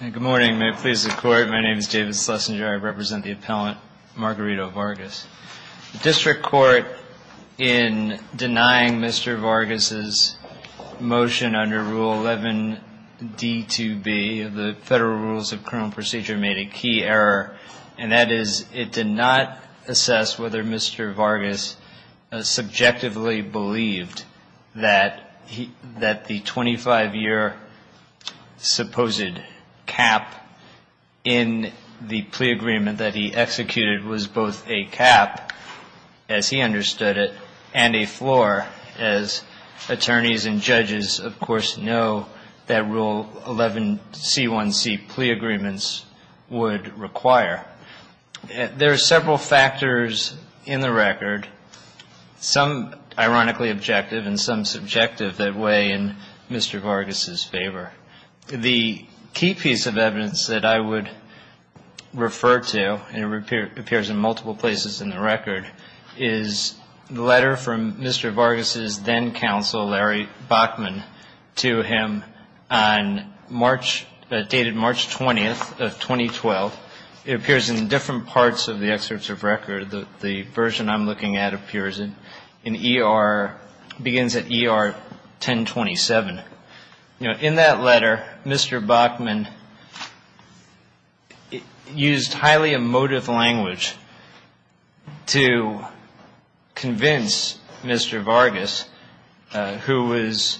Good morning. May it please the Court. My name is David Schlesinger. I represent the appellant Margarito Vargas. The District Court, in denying Mr. Vargas's motion under Rule 11d2b of the Federal Rules of Criminal Procedure, made a key error, and that is it did not assess whether Mr. Vargas subjectively believed that the 25-year supposed cap in the plea agreement that he executed was both a cap, as he understood it, and a floor, as attorneys and judges, of course, know that Rule 11c1c plea agreements would require. There are several factors in the record, some ironically objective and some subjective, that weigh in Mr. Vargas's favor. The key piece of evidence that I would refer to, and it appears in multiple places in the record, is the letter from Mr. Vargas's then counsel, Larry Bachman, to him on March, dated March 20th of 2012. It appears in different parts of the excerpts of record. The version I'm looking at appears in ER, begins at ER 1027. In that letter, Mr. Bachman used highly emotive language to convince Mr. Vargas, who was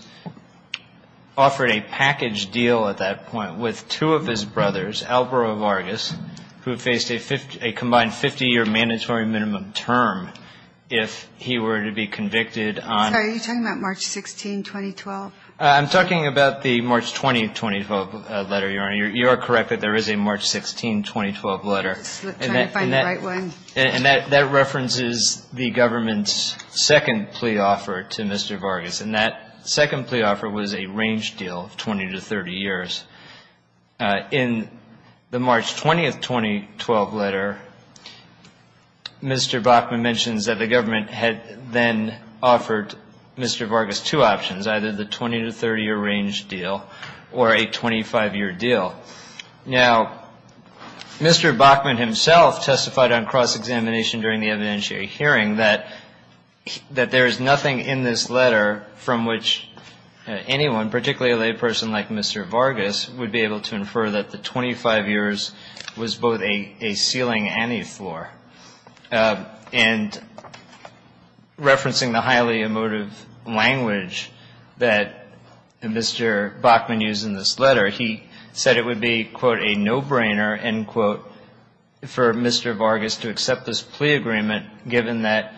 offered a package deal at that point with two of his brothers, Alvaro Vargas, who faced a combined 50-year mandatory minimum term if he were to be convicted on — I'm talking about the March 20th, 2012 letter, Your Honor. You are correct that there is a March 16, 2012 letter. I'm trying to find the right one. And that references the government's second plea offer to Mr. Vargas. And that second plea offer was a range deal of 20 to 30 years. In the March 20th, 2012 letter, Mr. Bachman mentions that the government had then offered Mr. Vargas two options, either the 20 to 30-year range deal or a 25-year deal. Now, Mr. Bachman himself testified on cross-examination during the evidentiary hearing that there is nothing in this letter from which anyone, particularly a layperson like Mr. Vargas, would be able to infer that the 25 years was both a ceiling and a floor. And referencing the highly emotive language that Mr. Bachman used in this letter, he said it would be, quote, a no-brainer, end quote, for Mr. Vargas to accept this plea agreement given that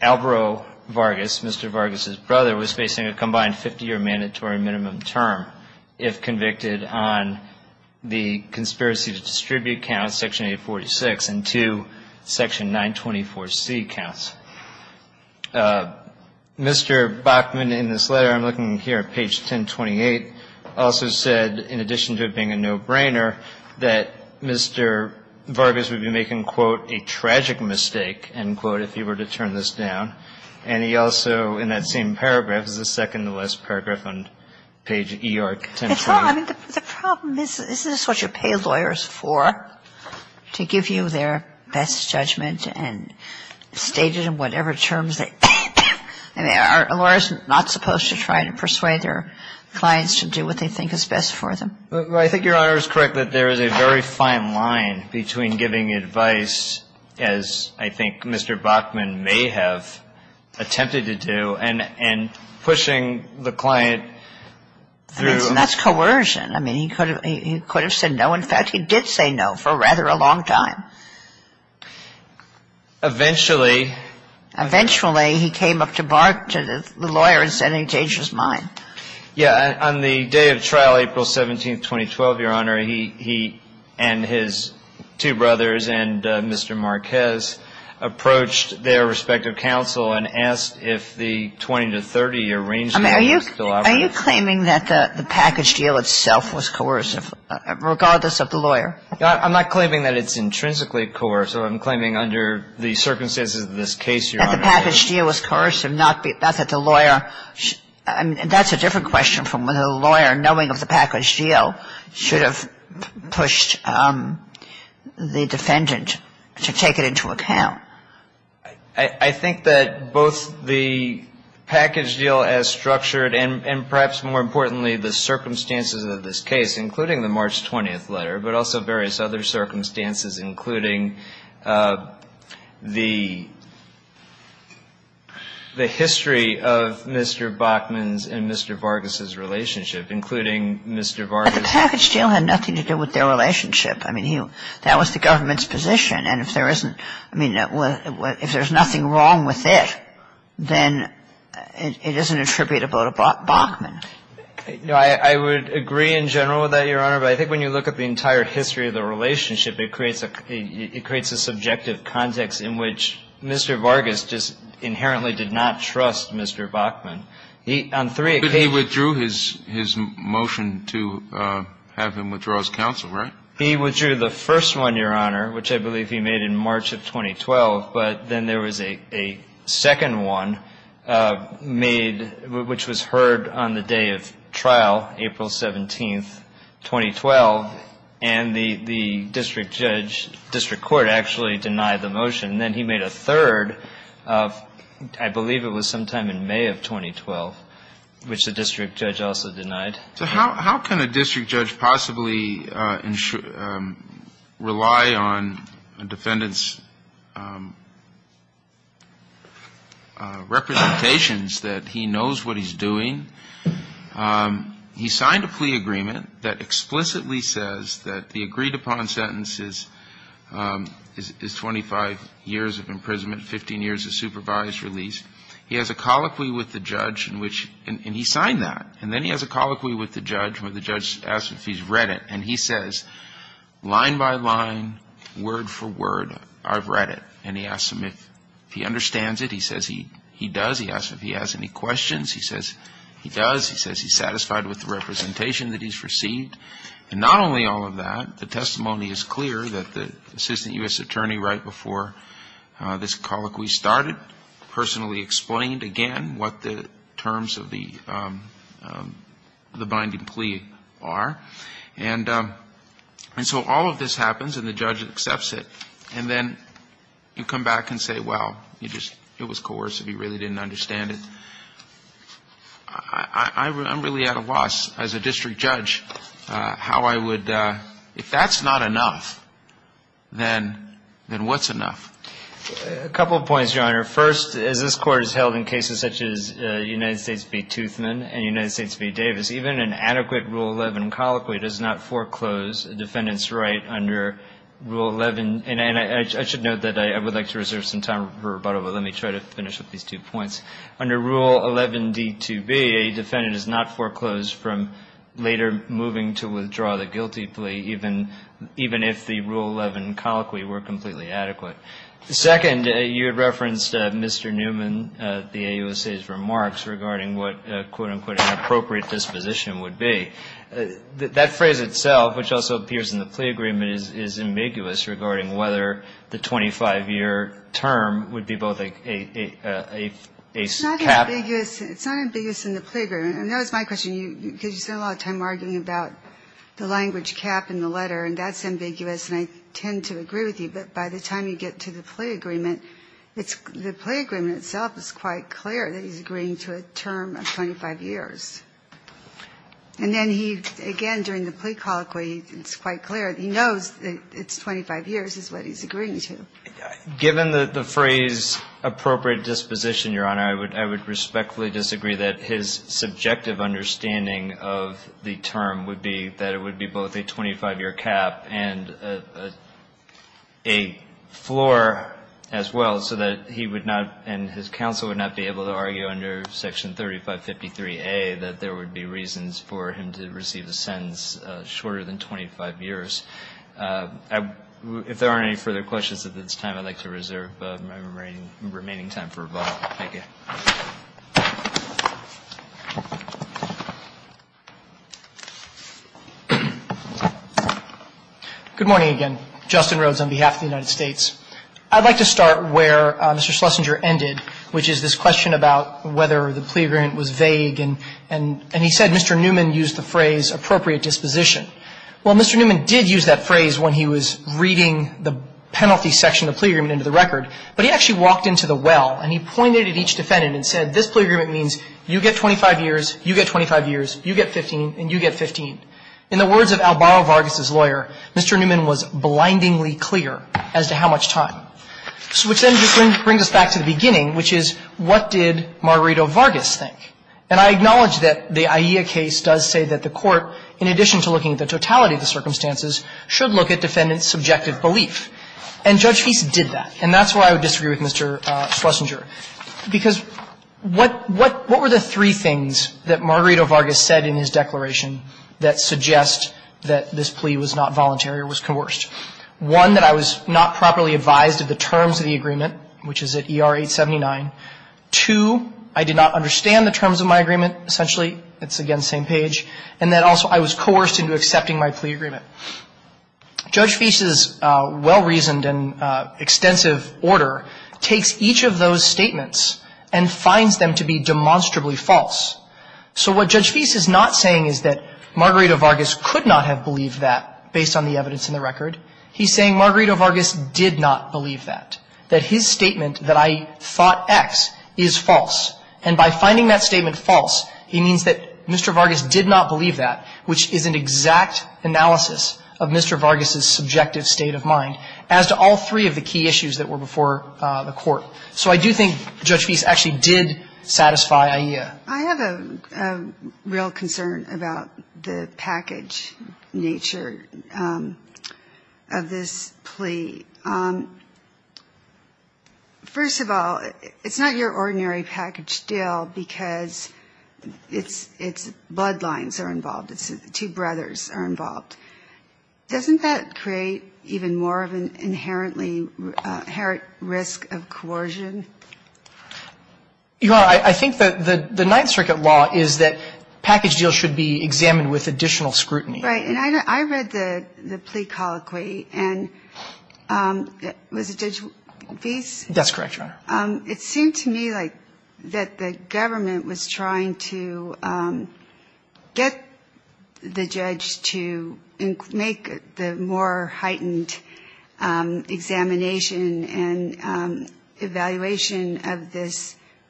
Alvaro Vargas, Mr. Vargas's brother, was facing a combined 50-year mandatory minimum term if convicted on the conspiracy to distribute counts, Section 846, and two Section 924C counts. Mr. Bachman in this letter, I'm looking here at page 1028, also said, in addition to it being a no-brainer, that Mr. Vargas would be making, quote, a tragic mistake, end quote, if he were to turn this down. And he also, in that same paragraph, this is the second paragraph in this paragraph on page E or 1028. It's not. I mean, the problem is, is this what you pay lawyers for, to give you their best judgment and state it in whatever terms they think? I mean, are lawyers not supposed to try to persuade their clients to do what they think is best for them? I think Your Honor is correct that there is a very fine line between giving advice, as I think Mr. Bachman may have attempted to do, and pushing the client through I mean, that's coercion. I mean, he could have said no. In fact, he did say no for rather a long time. Eventually Eventually, he came up to the lawyer and said he changed his mind. Yeah. On the day of trial, April 17th, 2012, Your Honor, he and his two brothers and Mr. Marquez approached their respective counsel and asked if the 20 to 30 year arrangement was still operative. I mean, are you claiming that the package deal itself was coercive, regardless of the lawyer? I'm not claiming that it's intrinsically coercive. I'm claiming under the circumstances of this case, Your Honor. That the package deal was coercive, not that the lawyer, I mean, that's a different question from whether the lawyer, knowing of the package deal, should have pushed the defendant to take it into account. I think that both the package deal as structured, and perhaps more importantly, the circumstances of this case, including the March 20th letter, but also various other circumstances, including the history of Mr. Bachman's and Mr. Vargas' relationship, including Mr. Vargas' But the package deal had nothing to do with their relationship. I mean, that was the government's position. And if there isn't, I mean, if there's nothing wrong with it, then it isn't attributable to Bachman. No, I would agree in general with that, Your Honor. But I think when you look at the entire history of the relationship, it creates a subjective context in which Mr. Vargas just inherently did not trust Mr. Bachman. He, on three occasions But he withdrew his motion to have him withdraw his counsel, right? He withdrew the first one, Your Honor, which I believe he made in March of 2012. But then there was a second one made, which was heard on the day of trial, April 17th, 2012, and the district judge, district court actually denied the motion. And then he made a third, I believe it was sometime in May of 2012, which the district judge also denied. So how can a district judge possibly rely on a defendant's representations that he knows what he's doing? He signed a plea agreement that explicitly says that the agreed-upon sentence is 25 years of imprisonment, 15 years of supervised release. He has a colloquy with the judge in which he signed that. And then he has a colloquy with the judge where the judge asks if he's read it. And he says, line by line, word for word, I've read it. And he asks him if he understands it. He says he does. He asks if he has any questions. He says he does. He says he's satisfied with the representation that he's received. And not only all of that, the testimony is clear that the assistant U.S. attorney right before this colloquy started personally explained again what the terms of the binding plea are. And so all of this happens, and the judge accepts it. And then you come back and say, well, you just, it was coercive. You really didn't understand it. I'm really at a loss as a district judge how I would, if that's not enough, then what's enough? A couple of points, Your Honor. First, as this Court has held in cases such as United foreclosed a defendant's right under Rule 11. And I should note that I would like to reserve some time for rebuttal, but let me try to finish with these two points. Under Rule 11d2b, a defendant is not foreclosed from later moving to withdraw the guilty plea, even if the Rule 11 colloquy were completely adequate. Second, you had referenced Mr. Newman, the AUSA's remarks regarding what, quote-unquote, an appropriate disposition would be. That phrase itself, which also appears in the plea agreement, is ambiguous regarding whether the 25-year term would be both a cap. It's not ambiguous. It's not ambiguous in the plea agreement. And that was my question. Because you spend a lot of time arguing about the language cap in the letter, and that's ambiguous, and I tend to agree with you. But by the time you get to the plea agreement, it's the plea agreement itself is quite clear that he's agreeing to a term of 25 years. And then he, again, during the plea colloquy, it's quite clear that he knows that it's 25 years is what he's agreeing to. Given the phrase, appropriate disposition, Your Honor, I would respectfully disagree that his subjective understanding of the term would be that it would be both a 25-year cap and a floor as well, so that he would not and his counsel would not be able to argue under Section 3553A that there would be reasons for him to receive a sentence shorter than 25 years. If there aren't any further questions at this time, I'd like to reserve my remaining time for rebuttal. Thank you. Good morning again. Justin Rhodes on behalf of the United States. I'd like to start where Mr. Schlesinger ended, which is this question about whether the plea agreement was vague. And he said Mr. Newman used the phrase, appropriate disposition. Well, Mr. Newman did use that phrase when he was reading the penalty section of the plea agreement into the record. But he actually walked into the well, and he pointed at each defendant and said, this plea agreement means you get 25 years, you get 25 years, you get 15, and you get 15. In the words of Albaro Vargas's lawyer, Mr. Newman was blindingly clear as to how much time. Which then just brings us back to the beginning, which is what did Margarito Vargas think? And I acknowledge that the AIA case does say that the court, in addition to looking at the totality of the circumstances, should look at defendant's subjective belief. And Judge Feist did that. And that's why I would disagree with Mr. Schlesinger. Because what were the three things that he said in his declaration that suggest that this plea was not voluntary or was coerced? One, that I was not properly advised of the terms of the agreement, which is at ER 879. Two, I did not understand the terms of my agreement, essentially. It's, again, same page. And then also, I was coerced into accepting my plea agreement. Judge Feist's well-reasoned and extensive order takes each of those statements and finds them to be demonstrably false. So what Judge Feist is not saying is that Margarito Vargas could not have believed that based on the evidence in the record. He's saying Margarito Vargas did not believe that, that his statement that I thought X is false. And by finding that statement false, he means that Mr. Vargas did not believe that, which is an exact analysis of Mr. Vargas's subjective state of mind as to all I have a real concern about the package nature of this plea. First of all, it's not your ordinary package deal because it's, it's bloodlines are involved. It's two brothers are involved. Doesn't that create even more of an inherently, inherent risk of coercion? I think that the Ninth Circuit law is that package deals should be examined with additional scrutiny. Right. And I read the plea colloquy and was it Judge Feist? That's correct, Your Honor. It seemed to me like that the government was trying to get the judge to make the more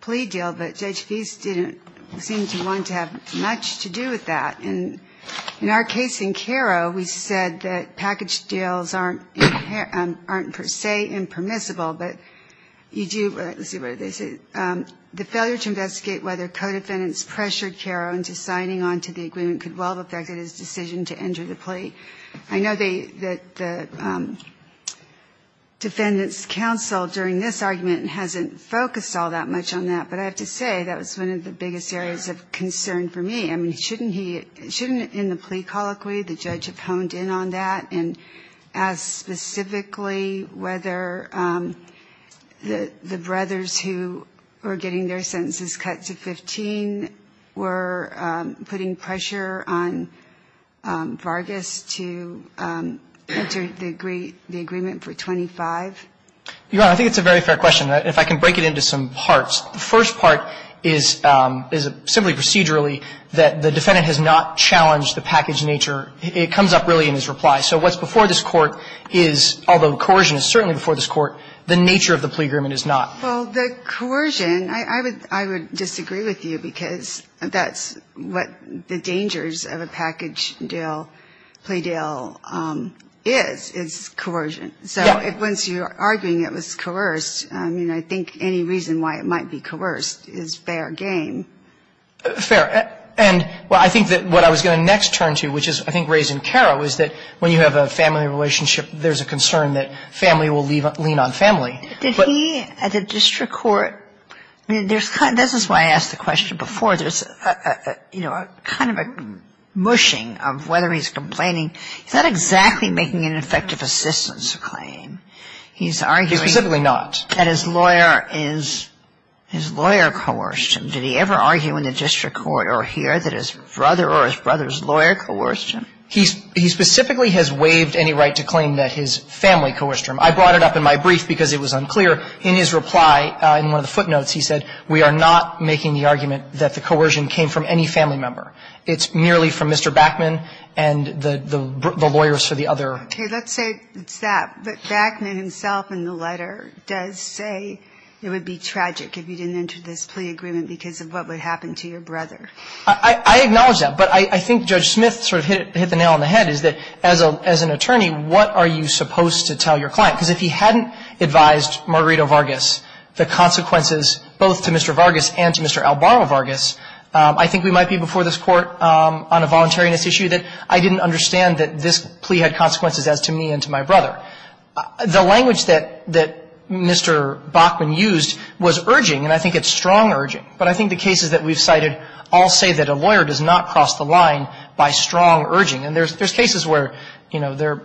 plea deal, but Judge Feist didn't seem to want to have much to do with that. And in our case in Karo, we said that package deals aren't, aren't per se impermissible, but you do, let's see, what did they say? The failure to investigate whether co-defendants pressured Karo into signing onto the agreement could well have affected his decision to enter the plea. I know that the defendants' counsel during this argument hasn't focused all that much on that, but I have to say that was one of the biggest areas of concern for me. I mean, shouldn't he, shouldn't in the plea colloquy the judge have honed in on that and asked specifically whether the brothers who were getting their sentences cut to 15 were putting pressure on Vargas to enter the agree, the agreement for 25? Your Honor, I think it's a very fair question. If I can break it into some parts. The first part is, is simply procedurally that the defendant has not challenged the package nature. It comes up really in his reply. So what's before this Court is, although coercion is certainly before this Court, the nature of the plea agreement is not. Well, the coercion, I would disagree with you because that's what the dangers of a package deal, plea deal is, is coercion. So once you're arguing it was coerced, I mean, I think any reason why it might be coerced is fair game. Fair. And, well, I think that what I was going to next turn to, which is I think raised in Karo, is that when you have a family relationship, there's a concern that family will lean on family. Did he at the district court, this is why I asked the question before, there's kind of a mushing of whether he's complaining. He's not exactly making an effective assistance claim. He's arguing He's specifically not. That his lawyer is, his lawyer coerced him. Did he ever argue in the district court or here that his brother or his brother's lawyer coerced him? He specifically has waived any right to claim that his family coerced him. I brought it up in my brief because it was unclear. In his reply, in one of the footnotes, he said, we are not making the argument that the coercion came from any family member. It's merely from Mr. Backman and the lawyers for the other Okay. Let's say it's that. But Backman himself in the letter does say it would be tragic if you didn't enter this plea agreement because of what would happen to your brother. I acknowledge that. But I think Judge Smith sort of hit the nail on the head is that as an attorney, what are you supposed to tell your client? Because if he hadn't advised Margarito Vargas the consequences both to Mr. Vargas and to Mr. Albarro Vargas, I think we might be before this Court on a voluntariness issue that I didn't understand that this plea had consequences as to me and to my brother. The language that Mr. Backman used was urging, and I think it's strong urging, but I think the cases that we've cited all say that a lawyer does not cross the line by strong urging. And there's cases where, you know, their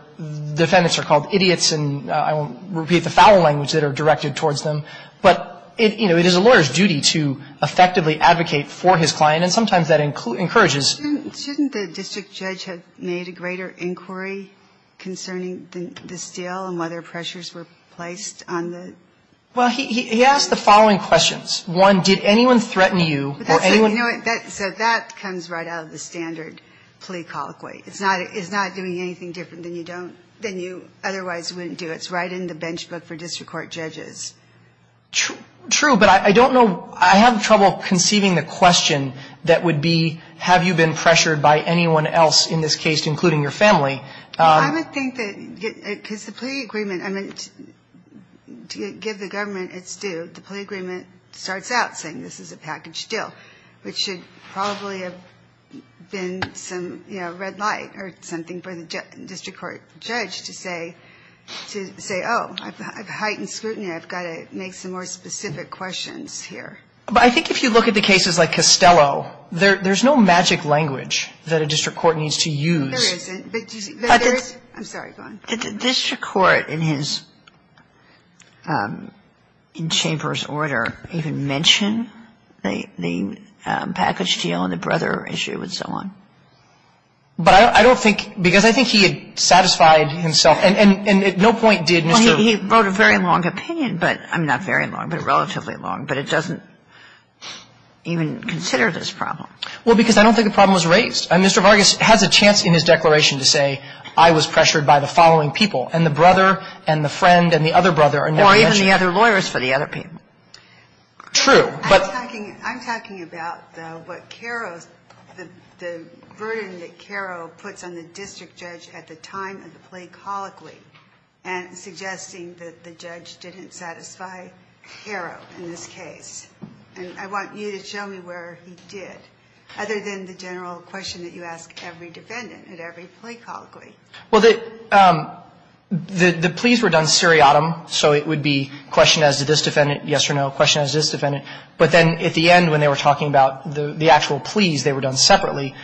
defendants are called idiots, and I won't repeat the foul language that are directed towards them, but, you know, it is a lawyer's duty to effectively advocate for his client, and sometimes that encourages Shouldn't the district judge have made a greater inquiry concerning this deal and whether pressures were placed on the Well, he asked the following questions. One, did anyone threaten you? So that comes right out of the standard plea colloquy. It's not doing anything different than you otherwise wouldn't do. It's right in the bench book for district court judges. True, but I don't know. I have trouble conceiving the question that would be, have you been pressured by anyone else in this case, including your family? I would think that, because the plea agreement, I mean, to give the government its due, the plea agreement starts out saying this is a package deal, which should probably have been some, you know, red light or something for the district court judge to say, oh, I've heightened scrutiny. I've got to make some more specific questions here. But I think if you look at the cases like Costello, there's no magic language that a district court needs to use. There isn't, but there is. I'm sorry. Go on. Did the district court in his chamber's order even mention the package deal and the brother issue and so on? But I don't think, because I think he had satisfied himself, and at no point did Mr. Well, he wrote a very long opinion, but not very long, but relatively long, but it doesn't even consider this problem. Well, because I don't think the problem was raised. Mr. Vargas has a chance in his declaration to say, I was pressured by the following people, and the brother and the friend and the other brother are never mentioned. Or even the other lawyers for the other people. True. I'm talking about, though, what Caro's, the burden that Caro puts on the district judge at the time of the plea colloquy and suggesting that the judge didn't satisfy And I think that that's a real issue, and I think that's a real issue, and I think that's a real issue and it's something that we need to discuss, and I think there is no question that he was a heroic hero in this case. And I want you to show me where he did, other than the general question that you ask every defendant at every plea colloquy. Well, the pleas were done seriatim, so it would be, question as to this defendant, yes or no, question as to this defendant. But then at the end when they were talking about the actual pleas, they were done separately.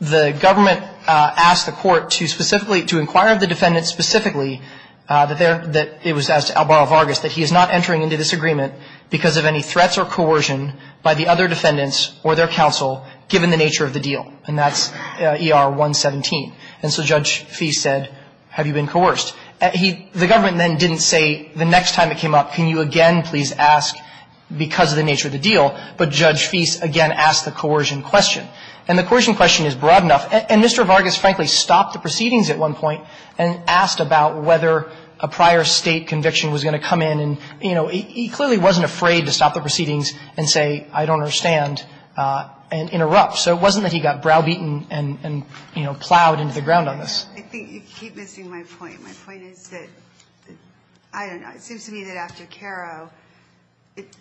The government asked the court to specifically, to inquire of the defendant specifically, that there, that it was as to Albaro Vargas, that he is not entering into this agreement because of any threats or coercion by the other defendants or their counsel, given the nature of the deal, and that's ER 117. And so Judge Fee said, have you been coerced? The government then didn't say the next time it came up, can you again please ask because of the nature of the deal, but Judge Fee again asked the coercion question. And the coercion question is broad enough. And Mr. Vargas, frankly, stopped the proceedings at one point and asked about whether a prior State conviction was going to come in and, you know, he clearly wasn't afraid to stop the proceedings and say, I don't understand, and interrupt. So it wasn't that he got browbeaten and, you know, plowed into the ground on this. I think you keep missing my point. My point is that, I don't know, it seems to me that after Caro,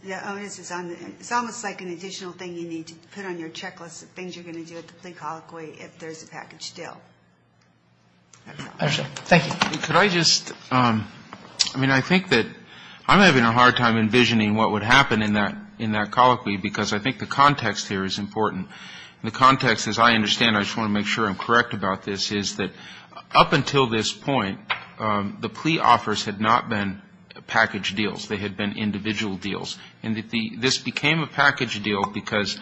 the onus is on the it's almost like an additional thing you need to put on your checklist of things you're going to do at the plea colloquy if there's a package deal. Thank you. Could I just, I mean, I think that I'm having a hard time envisioning what would happen in that colloquy because I think the context here is important. The context, as I understand, I just want to make sure I'm correct about this, is that up until this point, the plea offers had not been package deals. They had been individual deals. And this became a package deal because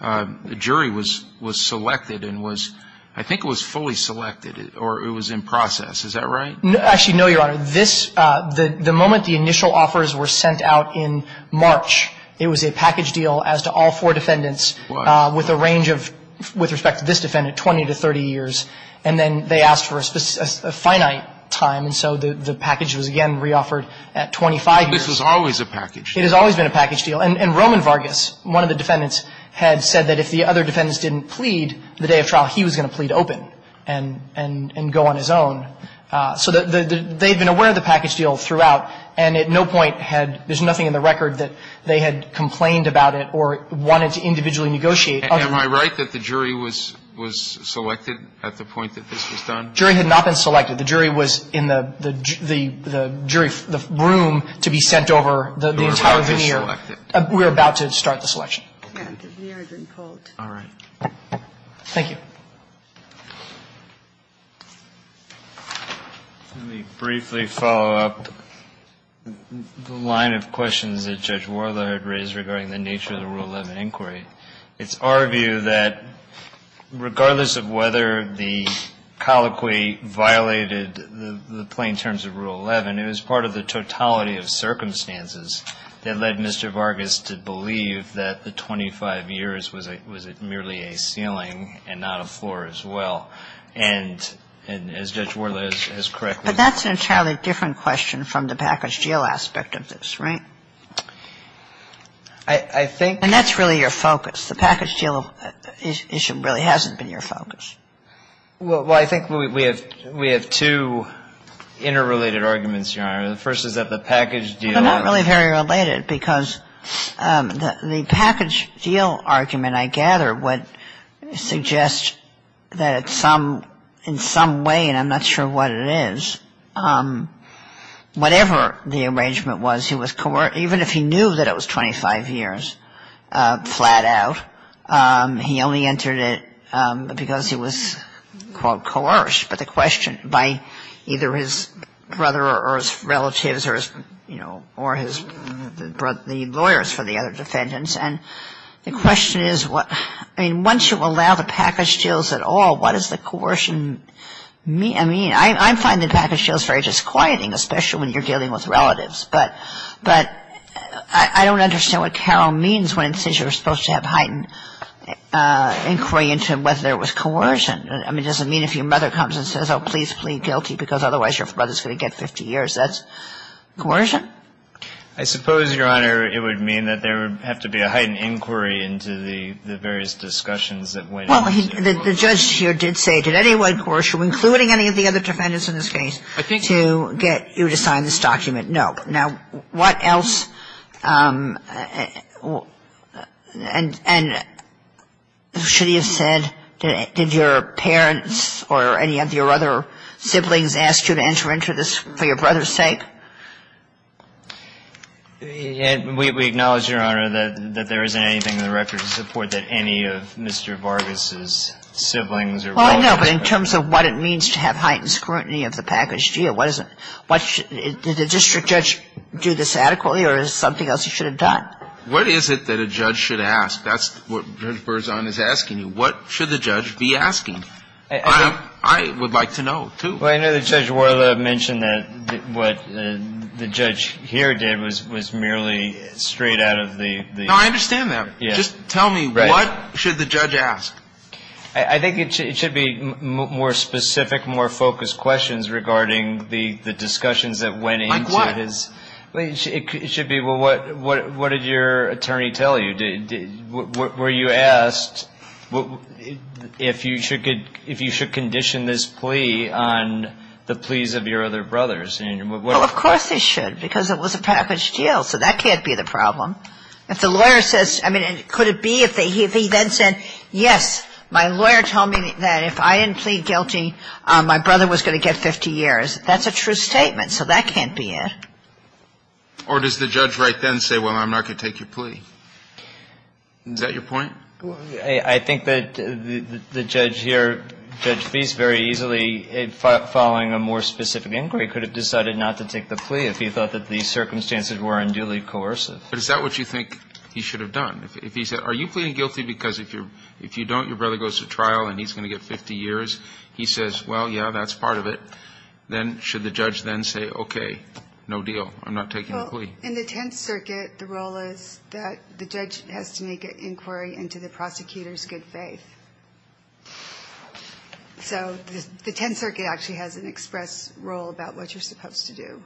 the jury was selected and was, I think it was fully selected or it was in process. Is that right? Actually, no, Your Honor. This, the moment the initial offers were sent out in March, it was a package deal as to all four defendants with a range of, with respect to this defendant, 20 to 30 years. And then they asked for a finite time, and so the package was again reoffered at 25 years. This was always a package. It has always been a package deal. And Roman Vargas, one of the defendants, had said that if the other defendants didn't plead the day of trial, he was going to plead open and go on his own. So they had been aware of the package deal throughout, and at no point had, there's no way that the jury had complained about it or wanted to individually negotiate. Am I right that the jury was, was selected at the point that this was done? The jury had not been selected. The jury was in the, the jury, the room to be sent over the entire veneer. Vargas was selected. We're about to start the selection. Okay. All right. Thank you. Let me briefly follow up the line of questions that Judge Warla had raised regarding the nature of the Rule 11 inquiry. It's our view that regardless of whether the colloquy violated the plain terms of Rule 11, it was part of the totality of circumstances that led Mr. Vargas to believe that the 25 years was a, was it merely a ceiling and not a floor as well. And, and as Judge Warla has correctly pointed out. But that's an entirely different question from the package deal aspect of this, right? I think. And that's really your focus. The package deal issue really hasn't been your focus. Well, I think we have, we have two interrelated arguments, Your Honor. The first is that the package deal. They're not really very related because the package deal argument, I gather, would suggest that it's some, in some way, and I'm not sure what it is, whatever the arrangement was, he was, even if he knew that it was 25 years flat out, he only entered it because he was, quote, coerced. But the question by either his brother or his relatives or his, you know, or his, the lawyers for the other defendants. And the question is what, I mean, once you allow the package deals at all, what does the coercion mean? I mean, I find the package deals very disquieting, especially when you're dealing with relatives. But, but I don't understand what Carol means when it says you're supposed to have heightened inquiry into whether there was coercion. I mean, does it mean if your mother comes and says, oh, please plead guilty because otherwise your brother's going to get 50 years, that's coercion? I suppose, Your Honor, it would mean that there would have to be a heightened inquiry into the various discussions that went into it. Well, the judge here did say, did anyone coerce you, including any of the other defendants in this case, to get you to sign this document? No. Now, what else? And should he have said, did your parents or any of your other siblings ask you to enter into this for your brother's sake? We acknowledge, Your Honor, that there isn't anything in the record to support that any of Mr. Vargas' siblings are involved. Well, I know, but in terms of what it means to have heightened scrutiny of the package What is it that a judge should ask? That's what Judge Berzon is asking you. What should the judge be asking? I would like to know, too. Well, I know that Judge Worla mentioned that what the judge here did was merely straight out of the ---- No, I understand that. Just tell me, what should the judge ask? I think it should be more specific, more focused questions regarding whether the discussions that went into his ---- Like what? It should be, well, what did your attorney tell you? Were you asked if you should condition this plea on the pleas of your other brothers? Well, of course they should, because it was a package deal, so that can't be the problem. If the lawyer says, I mean, could it be if he then said, yes, my lawyer told me that if I didn't plead guilty, my brother was going to get 50 years, that's a true statement, so that can't be it. Or does the judge right then say, well, I'm not going to take your plea? Is that your point? I think that the judge here, Judge Feist, very easily, following a more specific inquiry, could have decided not to take the plea if he thought that the circumstances were unduly coercive. But is that what you think he should have done? If he said, are you pleading guilty because if you don't, your brother goes to trial and he's going to get 50 years, he says, well, yeah, that's part of it, then should the judge then say, okay, no deal, I'm not taking the plea? In the Tenth Circuit, the role is that the judge has to make an inquiry into the prosecutor's good faith. So the Tenth Circuit actually has an express role about what you're supposed to do.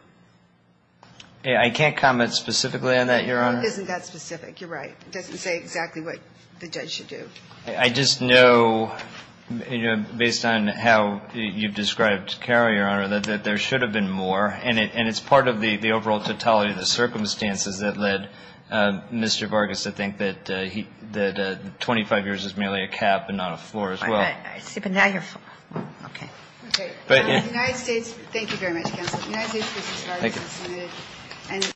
I can't comment specifically on that, Your Honor. It isn't that specific. You're right. It doesn't say exactly what the judge should do. I just know, based on how you've described Carroll, Your Honor, that there should have been more. And it's part of the overall totality of the circumstances that led Mr. Vargas to think that 25 years is merely a cap and not a floor as well. I see. But now you're full. Okay. Okay. Thank you. Thank you very much, counsel. Thank you. Thank you.